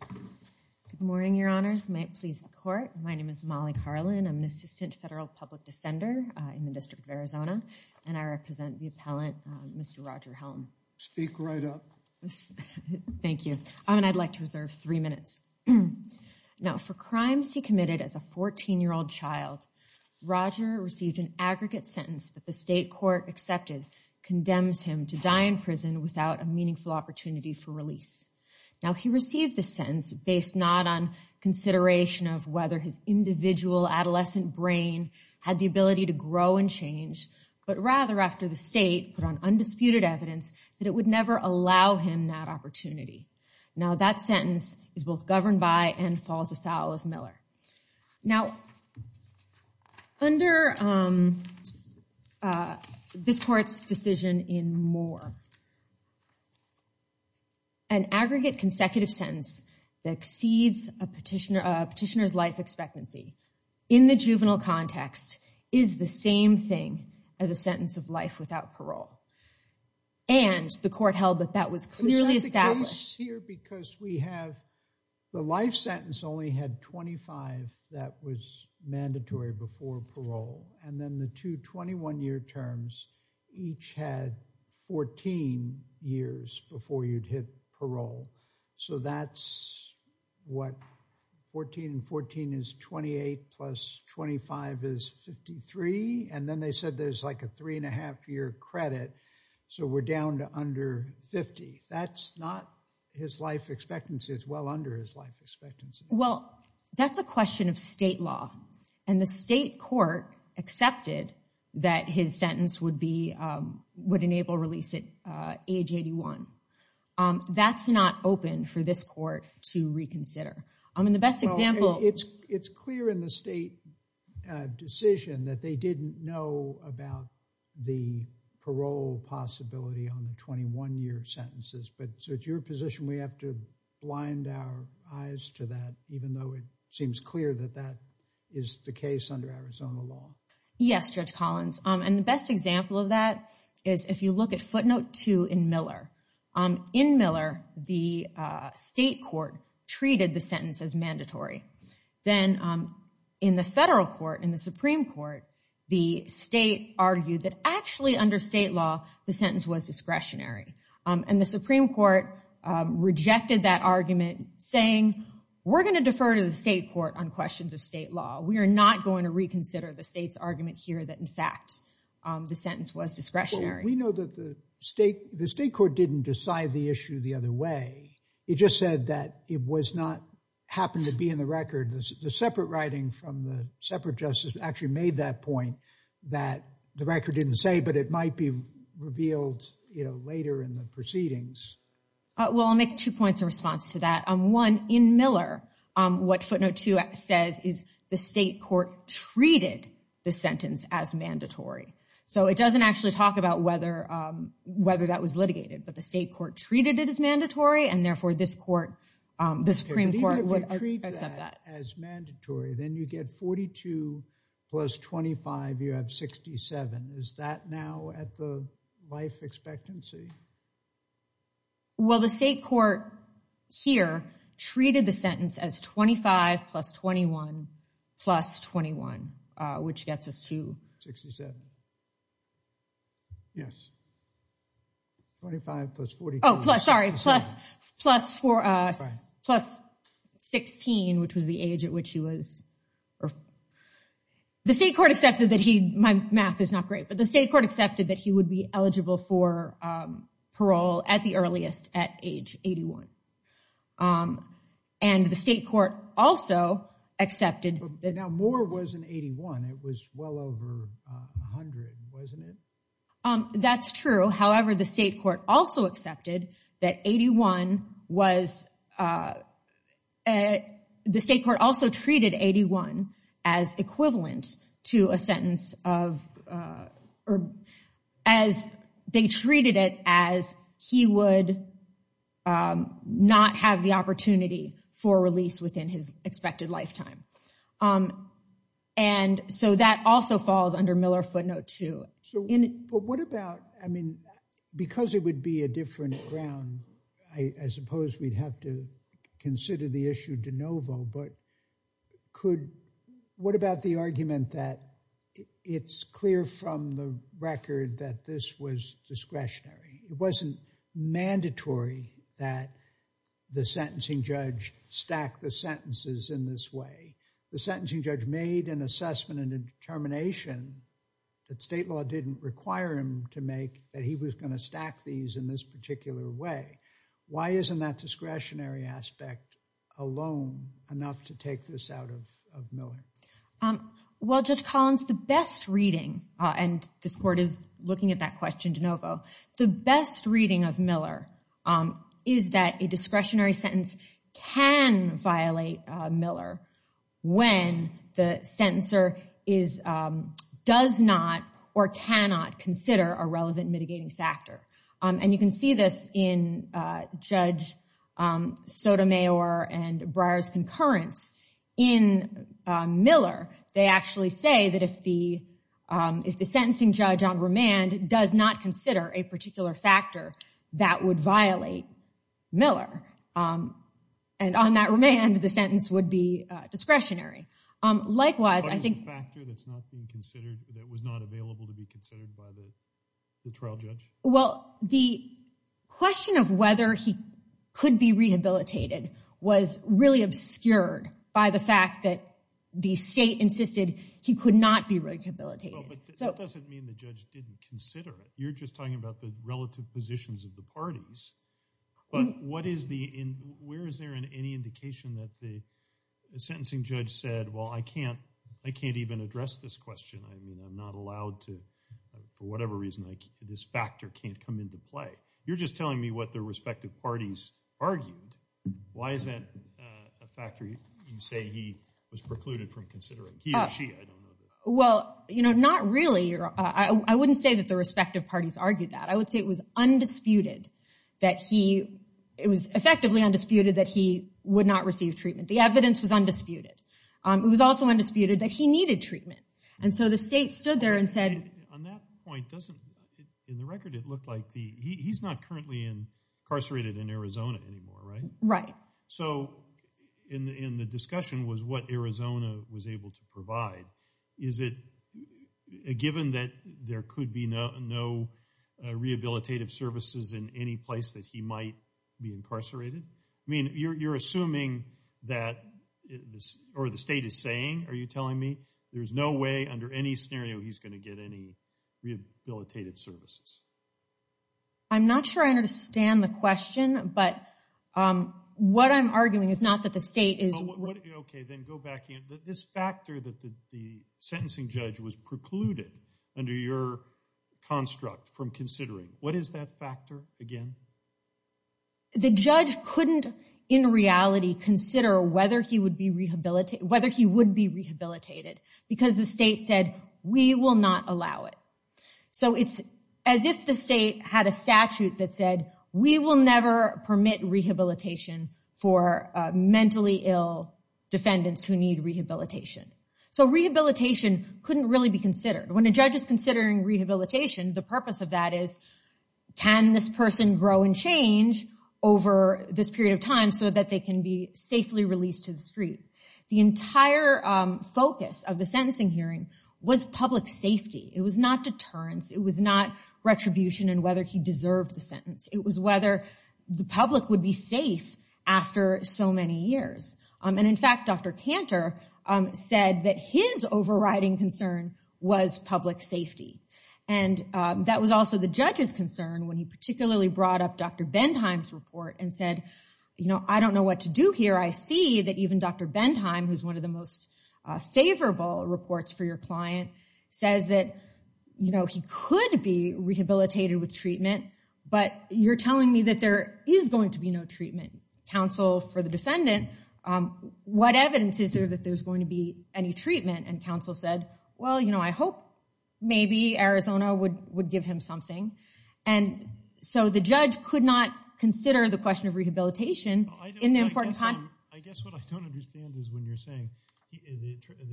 Good morning, Your Honors. May it please the Court. My name is Molly Carlin. I'm an assistant federal public defender in the District of Arizona, and I represent the appellant, Mr. Roger Helm. Speak right up. Thank you. I'd like to reserve three minutes. Now, for crimes he committed as a 14-year-old child, Roger received an aggregate sentence that the state court accepted condemns him to die in prison without a meaningful opportunity for release. Now, he received a sentence based not on consideration of whether his individual adolescent brain had the ability to grow and change, but rather after the state put on undisputed evidence that it would never allow him that opportunity. Now, that sentence is both governed by and falls afoul of Miller. Now, under this court's decision in Moore, an aggregate consecutive sentence that exceeds a petitioner's life expectancy in the juvenile context is the same thing as a sentence of life without parole, and the court held that that was clearly established. Because we have the life sentence only had 25 that was mandatory before parole, and then the two 21-year terms each had 14 years before you'd hit parole, so that's what 14 and 14 is 28 plus 25 is 53, and then they said there's like a three and a half year credit, so we're down to under 50. That's not his life expectancy. It's well under his life expectancy. Well, that's a question of state court accepted that his sentence would be, would enable release at age 81. That's not open for this court to reconsider. I mean, the best example, it's it's clear in the state decision that they didn't know about the parole possibility on the 21-year sentences, but so it's your position we have to blind our eyes to that even though it seems clear that that is the case under Arizona law? Yes, Judge Collins, and the best example of that is if you look at footnote 2 in Miller. In Miller, the state court treated the sentence as mandatory. Then in the federal court, in the Supreme Court, the state argued that actually under state law the sentence was discretionary, and the Supreme Court rejected that argument saying we're going to defer to the state court on questions of state law. We are not going to reconsider the state's argument here that in fact the sentence was discretionary. We know that the state, the state court didn't decide the issue the other way. It just said that it was not happened to be in the record. The separate writing from the separate justice actually made that point that the record didn't say, but it might be Well, I'll make two points of response to that. One, in Miller, what footnote 2 says is the state court treated the sentence as mandatory. So it doesn't actually talk about whether whether that was litigated, but the state court treated it as mandatory and therefore this court, the Supreme Court, would accept that. As mandatory, then you get 42 plus 25, you have 67. Is that now at the life expectancy? Well, the state court here treated the sentence as 25 plus 21 plus 21, which gets us to 67. Yes, 25 plus 42. Oh, sorry, plus 16, which was the age at which he was. The state court accepted that he, my math is not great, but the parole at the earliest at age 81. And the state court also accepted that. Now, Moore was an 81. It was well over 100, wasn't it? That's true. However, the state court also accepted that 81 was, the state court also treated 81 as equivalent to a sentence of, or as they treated it as he would not have the opportunity for release within his expected lifetime, and so that also falls under Miller footnote 2. So what about, I mean, because it would be a different ground, I suppose we'd have to consider the issue de novo, but could, what about the argument that it's clear from the record that this was discretionary? It wasn't mandatory that the sentencing judge stack the sentences in this way. The sentencing judge made an assessment and determination that state law didn't require him to make that he was going to stack these in this take this out of Miller? Well, Judge Collins, the best reading, and this court is looking at that question de novo, the best reading of Miller is that a discretionary sentence can violate Miller when the sentencer is, does not or cannot consider a relevant mitigating factor. And you can see this in Judge Sotomayor and Breyer's concurrence in Miller. They actually say that if the sentencing judge on remand does not consider a particular factor that would violate Miller, and on that remand the sentence would be discretionary. Likewise, I think... What is the factor that's not being considered, that was not available to be considered by the trial judge? Well, the question of whether he could be rehabilitated was really obscured by the fact that the state insisted he could not be rehabilitated. But that doesn't mean the judge didn't consider it. You're just talking about the relative positions of the parties, but what is the, where is there in any indication that the sentencing judge said, well, I can't, I can't even address this question. I mean, I'm not allowed to, for whatever reason, like, this factor can't come into play. You're just telling me what their respective parties argued. Why is that a factor you say he was precluded from considering? He or she, I don't know. Well, you know, not really. I wouldn't say that the respective parties argued that. I would say it was undisputed that he, it was effectively undisputed that he would not receive treatment. The evidence was undisputed. It was also undisputed that he needed treatment. And so the state stood there and said. On that point, doesn't, in the record, it looked like the, he's not currently incarcerated in Arizona anymore, right? Right. So in the discussion was what Arizona was able to provide. Is it a given that there could be no rehabilitative services in any place that he might be incarcerated? I mean, you're assuming that this, or the state is saying, are you telling me, there's no way under any scenario he's going to get any rehabilitative services? I'm not sure I understand the question, but what I'm arguing is not that the state is. Okay, then go back in. This factor that the sentencing judge was precluded under your construct from considering, what is that factor again? The judge couldn't, in reality, consider whether he would be rehabilitated, whether he would be rehabilitated, because the state said, we will not allow it. So it's as if the state had a statute that said, we will never permit rehabilitation for mentally ill defendants who need rehabilitation. So rehabilitation couldn't really be considered. When a judge is considering rehabilitation, the purpose of that is, can this person grow and change over this period of time so that they can be rehabilitated? The other focus of the sentencing hearing was public safety. It was not deterrence. It was not retribution and whether he deserved the sentence. It was whether the public would be safe after so many years. And in fact, Dr. Cantor said that his overriding concern was public safety. And that was also the judge's concern when he particularly brought up Dr. Bendheim's report and said, you know, I don't know what to do here. I see that even Dr. Bendheim, who's one of the most favorable reports for your client, says that, you know, he could be rehabilitated with treatment, but you're telling me that there is going to be no treatment. Counsel for the defendant, what evidence is there that there's going to be any treatment? And counsel said, well, you know, I hope maybe Arizona would would give him something. And so the judge could not consider the the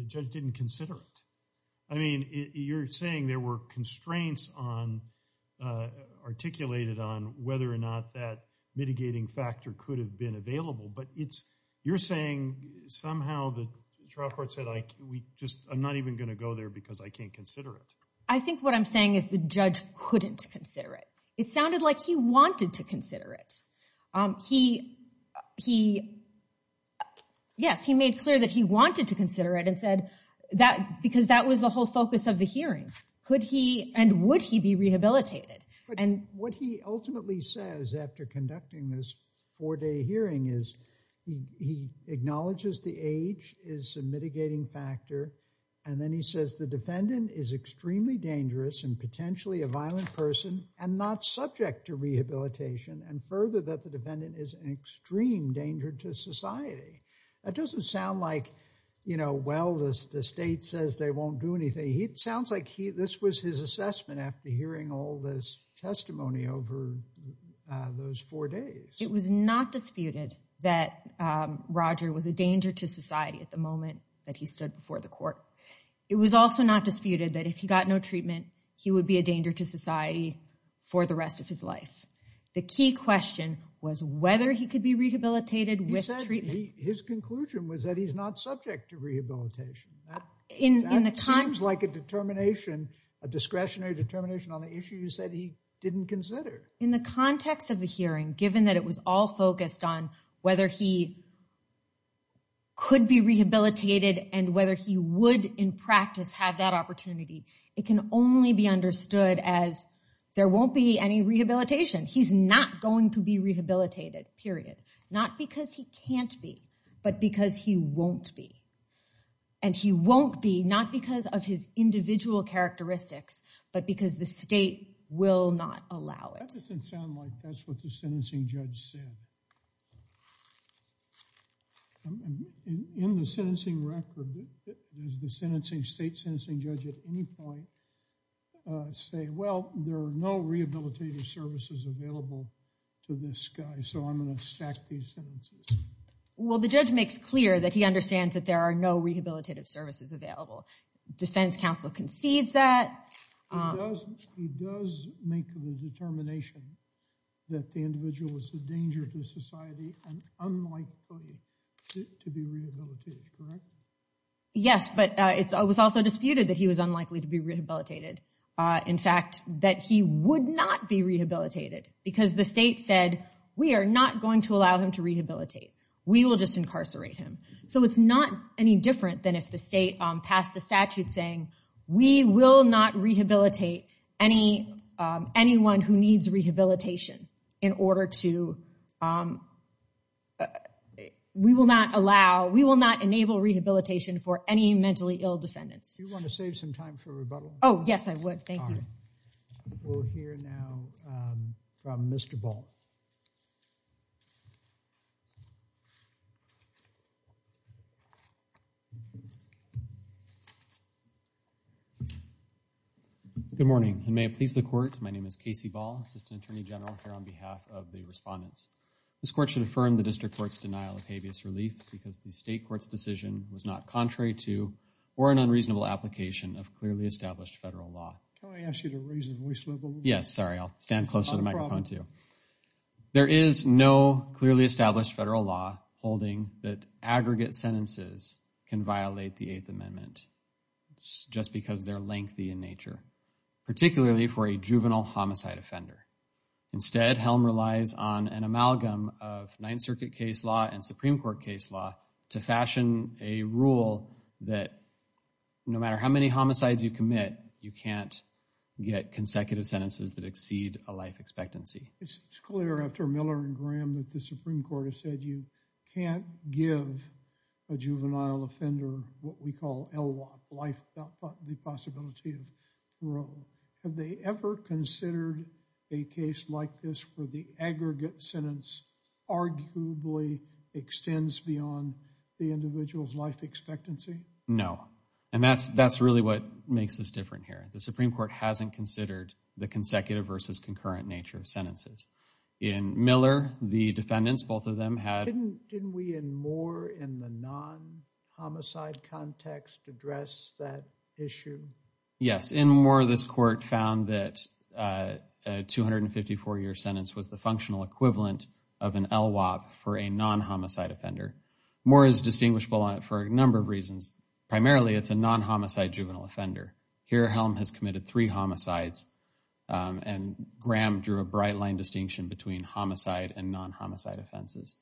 judge didn't consider it. I mean, you're saying there were constraints on articulated on whether or not that mitigating factor could have been available, but it's, you're saying somehow the trial court said, like, we just, I'm not even gonna go there because I can't consider it. I think what I'm saying is the judge couldn't consider it. It sounded like he wanted to consider it. He, yes, he made clear that he wanted to consider it and said that because that was the whole focus of the hearing. Could he and would he be rehabilitated? And what he ultimately says after conducting this four-day hearing is he acknowledges the age is a mitigating factor and then he says the defendant is extremely dangerous and potentially a violent person and not subject to and the defendant is an extreme danger to society. That doesn't sound like, you know, well, this, the state says they won't do anything. It sounds like he, this was his assessment after hearing all this testimony over those four days. It was not disputed that Roger was a danger to society at the moment that he stood before the court. It was also not disputed that if he got no treatment, he would be a danger to society for the rest of his life. The key question was whether he could be rehabilitated with treatment. He said his conclusion was that he's not subject to rehabilitation. That seems like a determination, a discretionary determination on the issues that he didn't consider. In the context of the hearing, given that it was all focused on whether he could be rehabilitated and whether he would in practice have that opportunity, it can only be understood as there won't be any rehabilitation. He's not going to be rehabilitated, period. Not because he can't be, but because he won't be. And he won't be, not because of his individual characteristics, but because the state will not allow it. That doesn't sound like that's what the sentencing judge said. In the sentencing record, does the state sentencing judge at any point say, well, there are no rehabilitative services available to this guy, so I'm going to stack these sentences? Well, the judge makes clear that he understands that there are no rehabilitative services available. Defense counsel concedes that. He does make the determination that the individual is a member of society and unlikely to be rehabilitated, correct? Yes, but it was also disputed that he was unlikely to be rehabilitated. In fact, that he would not be rehabilitated because the state said, we are not going to allow him to rehabilitate. We will just incarcerate him. So it's not any different than if the state passed a statute saying, we will not rehabilitate anyone who needs rehabilitation in order to, we will not allow, we will not enable rehabilitation for any mentally ill defendants. Do you want to save some time for rebuttal? Oh, yes, I would. Thank you. We'll hear now from Mr. Ball. Good morning, and may it please the court, my name is Casey Ball, assistant attorney general here on behalf of the respondents. This court should affirm the district court's denial of habeas relief because the state court's decision was not contrary to or an unreasonable application of clearly established federal law. Can I ask you to raise the voice level? Yes, sorry, I'll stand closer to the microphone too. There is no clearly established federal law holding that aggregate sentences can violate the Eighth Amendment. It's just because they're lengthy in nature, particularly for a juvenile homicide offender. Instead, Helm relies on an amalgam of Ninth Circuit case law and Supreme Court case law to fashion a rule that no matter how many homicides you commit, you can't get consecutive sentences that exceed a life expectancy. It's clear after Miller and Graham that the Supreme Court has said you can't give a juvenile offender what we call LWOP, life without the possibility of parole. Have they ever considered a case like this where the aggregate sentence arguably extends beyond the individual's life expectancy? No, and that's that's really what makes this different here. The Supreme Court hasn't considered the consecutive versus concurrent nature of sentences. In Miller, the defendants, both of them had... Didn't we in Moore in the non-homicide context address that issue? Yes, in Moore this court found that a 254 year sentence was the functional equivalent of an LWOP for a non-homicide offender. Moore is distinguishable for a number of reasons. Primarily, it's a non-homicide juvenile offender. Here, Helm has committed three homicides and Graham drew a bright line distinction between homicide and non-homicide offenses.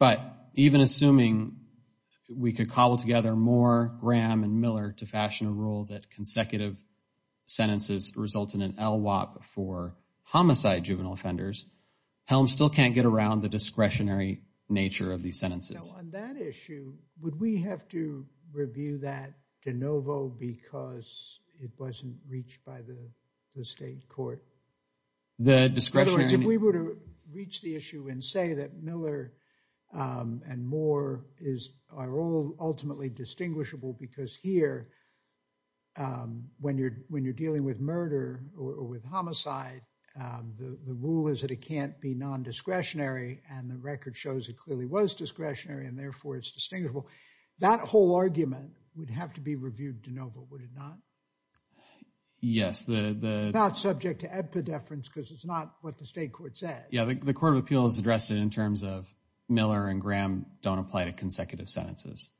But even assuming we could cobble together Moore, Graham, and Miller to fashion a rule that consecutive sentences result in LWOP for homicide juvenile offenders, Helm still can't get around the discretionary nature of these sentences. On that issue, would we have to review that de novo because it wasn't reached by the state court? The discretionary... In other words, if we were to reach the issue and say that Miller and Moore are all ultimately distinguishable because here when you're when you're dealing with murder or with homicide, the rule is that it can't be non-discretionary and the record shows it clearly was discretionary and therefore it's distinguishable. That whole argument would have to be reviewed de novo, would it not? Yes. It's not subject to epidepherence because it's not what the state court said. Yeah, the Court of Appeals addressed it in terms of Miller and Graham don't apply to consecutive sentences.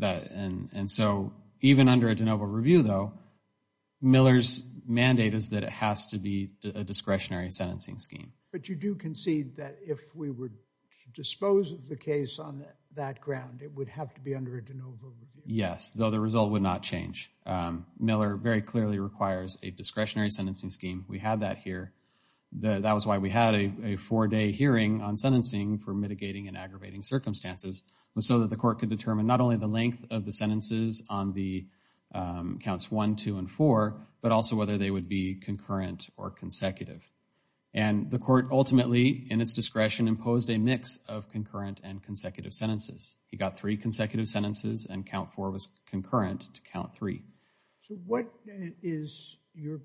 And so even under a de novo review though, Miller's mandate is that it has to be a discretionary sentencing scheme. But you do concede that if we would dispose of the case on that ground it would have to be under a de novo review? Yes, though the result would not change. Miller very clearly requires a discretionary sentencing scheme. We have that here. That was why we had a four-day hearing on sentencing for mitigating and aggravating circumstances was so that the court could determine not only the length of the sentences on the counts 1, 2, and 4, but also whether they would be concurrent or consecutive. And the court ultimately in its discretion imposed a mix of concurrent and consecutive sentences. He got three consecutive sentences and count 4 was concurrent to count 3. So what is your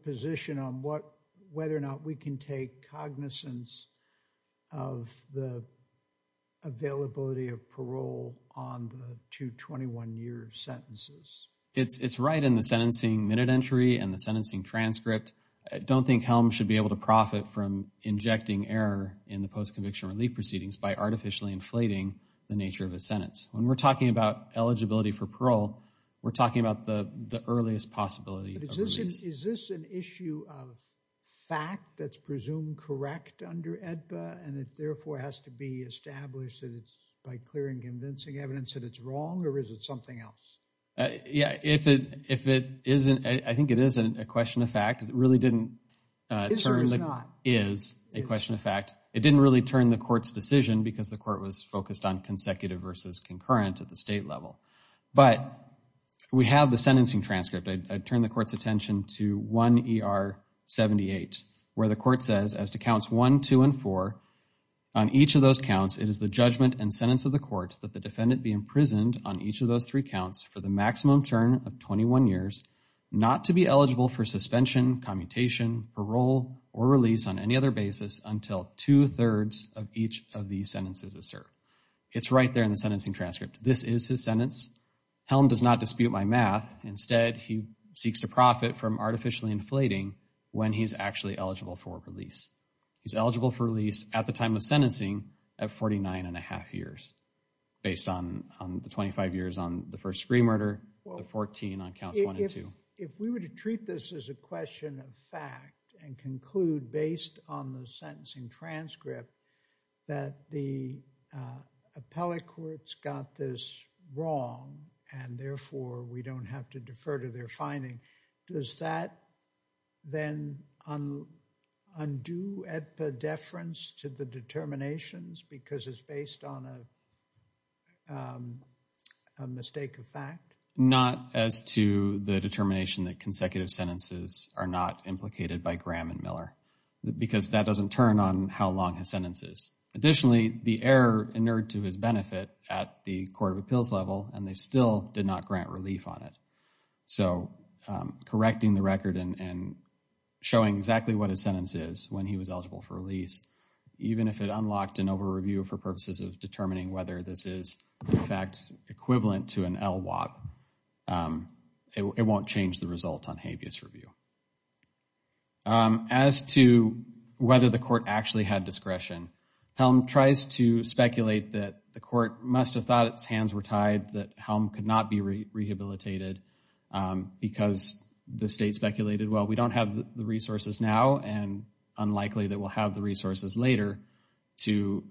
availability of parole on the two 21-year sentences? It's right in the sentencing minute entry and the sentencing transcript. I don't think Helms should be able to profit from injecting error in the post-conviction relief proceedings by artificially inflating the nature of a sentence. When we're talking about eligibility for parole, we're talking about the the earliest possibility. Is this an issue of fact that's presumed correct under the statute? Can it be established that it's by clear and convincing evidence that it's wrong or is it something else? Yeah, if it isn't, I think it isn't a question of fact. It really didn't turn, is a question of fact. It didn't really turn the court's decision because the court was focused on consecutive versus concurrent at the state level. But we have the sentencing transcript. I'd turn the court's attention to 1 ER 78 where the court says as to counts 1, 2, and 4, on each of those counts, it is the judgment and sentence of the court that the defendant be imprisoned on each of those three counts for the maximum term of 21 years, not to be eligible for suspension, commutation, parole, or release on any other basis until two-thirds of each of these sentences is served. It's right there in the sentencing transcript. This is his sentence. Helm does not dispute my math. Instead, he seeks to profit from artificially inflating when he's actually eligible for release. He's eligible for release at the time of 49 and a half years based on the 25 years on the first screen murder, the 14 on counts 1 and 2. If we were to treat this as a question of fact and conclude based on the sentencing transcript that the appellate courts got this wrong and therefore we don't have to defer to their finding, does that then undo epidefference to the determinations because it's based on a mistake of fact? Not as to the determination that consecutive sentences are not implicated by Graham and Miller because that doesn't turn on how long his sentence is. Additionally, the error inerred to his benefit at the court of appeals level and they still did not grant relief on it. So, correcting the for release, even if it unlocked an over-review for purposes of determining whether this is in fact equivalent to an LWAT, it won't change the result on habeas review. As to whether the court actually had discretion, Helm tries to speculate that the court must have thought its hands were tied that Helm could not be rehabilitated because the state speculated, well, we don't have the resources later to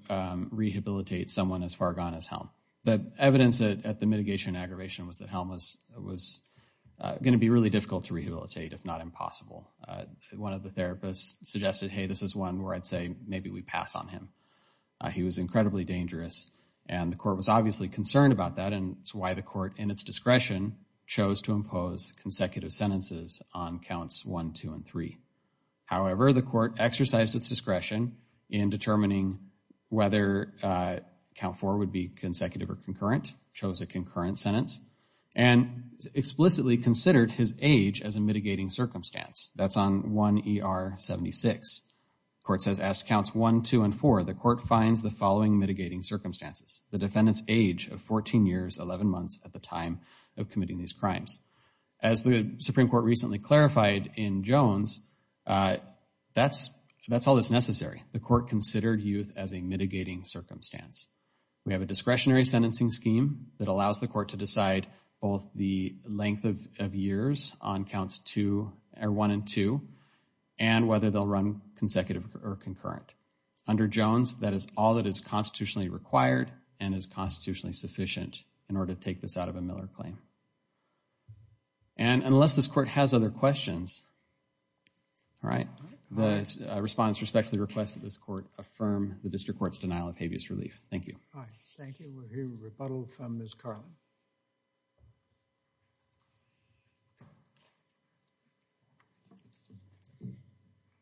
rehabilitate someone as far gone as Helm. The evidence at the mitigation and aggravation was that Helm was going to be really difficult to rehabilitate, if not impossible. One of the therapists suggested, hey, this is one where I'd say maybe we pass on him. He was incredibly dangerous and the court was obviously concerned about that and it's why the court, in its discretion, chose to impose consecutive sentences on counts 1, 2, and 3. However, the court exercised its discretion in determining whether count 4 would be consecutive or concurrent, chose a concurrent sentence, and explicitly considered his age as a mitigating circumstance. That's on 1 ER 76. The court says, asked counts 1, 2, and 4, the court finds the following mitigating circumstances. The defendant's age of 14 years 11 months at the time of committing these crimes. As the Supreme Court recently clarified in Jones, that's all that's necessary. The court considered youth as a mitigating circumstance. We have a discretionary sentencing scheme that allows the court to decide both the length of years on counts 1 and 2 and whether they'll run consecutive or concurrent. Under Jones, that is all that is constitutionally required and is constitutionally sufficient in order to take this out of a Miller claim. And unless this court has other questions, all right, the respondents respectfully request that this court affirm the district court's denial of habeas relief. Thank you.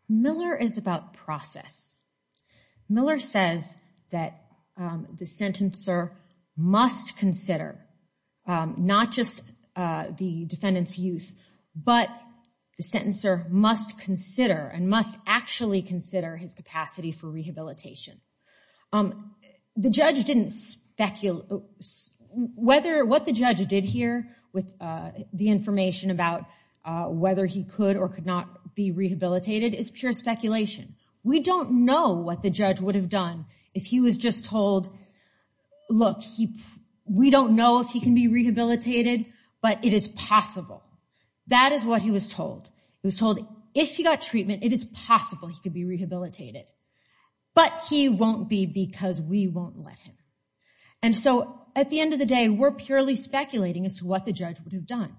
Miller is about process. Miller says that the sentencer must consider not just the defendant's youth, but the sentencer must consider and must actually consider his capacity for rehabilitation. The judge didn't speculate. What the judge did here with the information about whether he could or could not be rehabilitated is pure speculation. We don't know what the judge would have done if he was just told, look, we don't know if he can be rehabilitated, but it is possible. That is what he was told. He was told if he got treatment, it is possible he could be rehabilitated. But he won't be because we won't let him. And so at the end of the day, we're purely speculating as to what the judge would have done.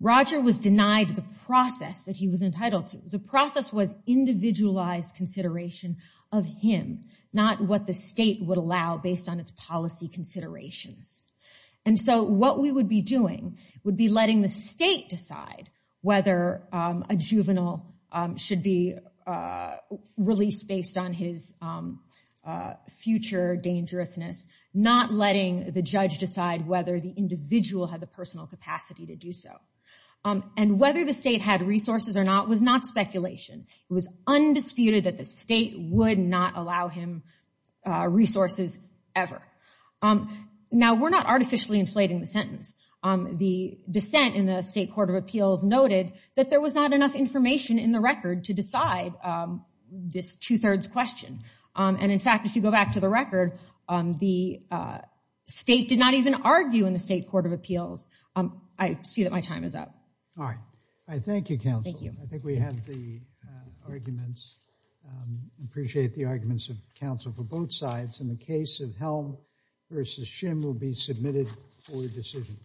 Roger was denied the process that he was entitled to. The process was individualized consideration of him, not what the state would allow based on its policy considerations. And so what we would be doing would be letting the state decide whether a juvenile should be released based on his future dangerousness, not letting the judge decide whether the individual had the personal capacity to do so. And whether the state had resources or not was not speculation. It was undisputed that the state would not allow him resources ever. Now we're not artificially inflating the sentence. The dissent in the State Court of Appeals noted that there was not enough information in the record to decide this two-thirds question. And in fact, if you go back to the record, the state did not even argue in the State Court of Appeals. I see that my time is up. All right. I thank you, counsel. Thank you. I think we have the arguments. I appreciate the arguments of counsel for both sides. In the case of Helm versus Shim will be submitted for decision.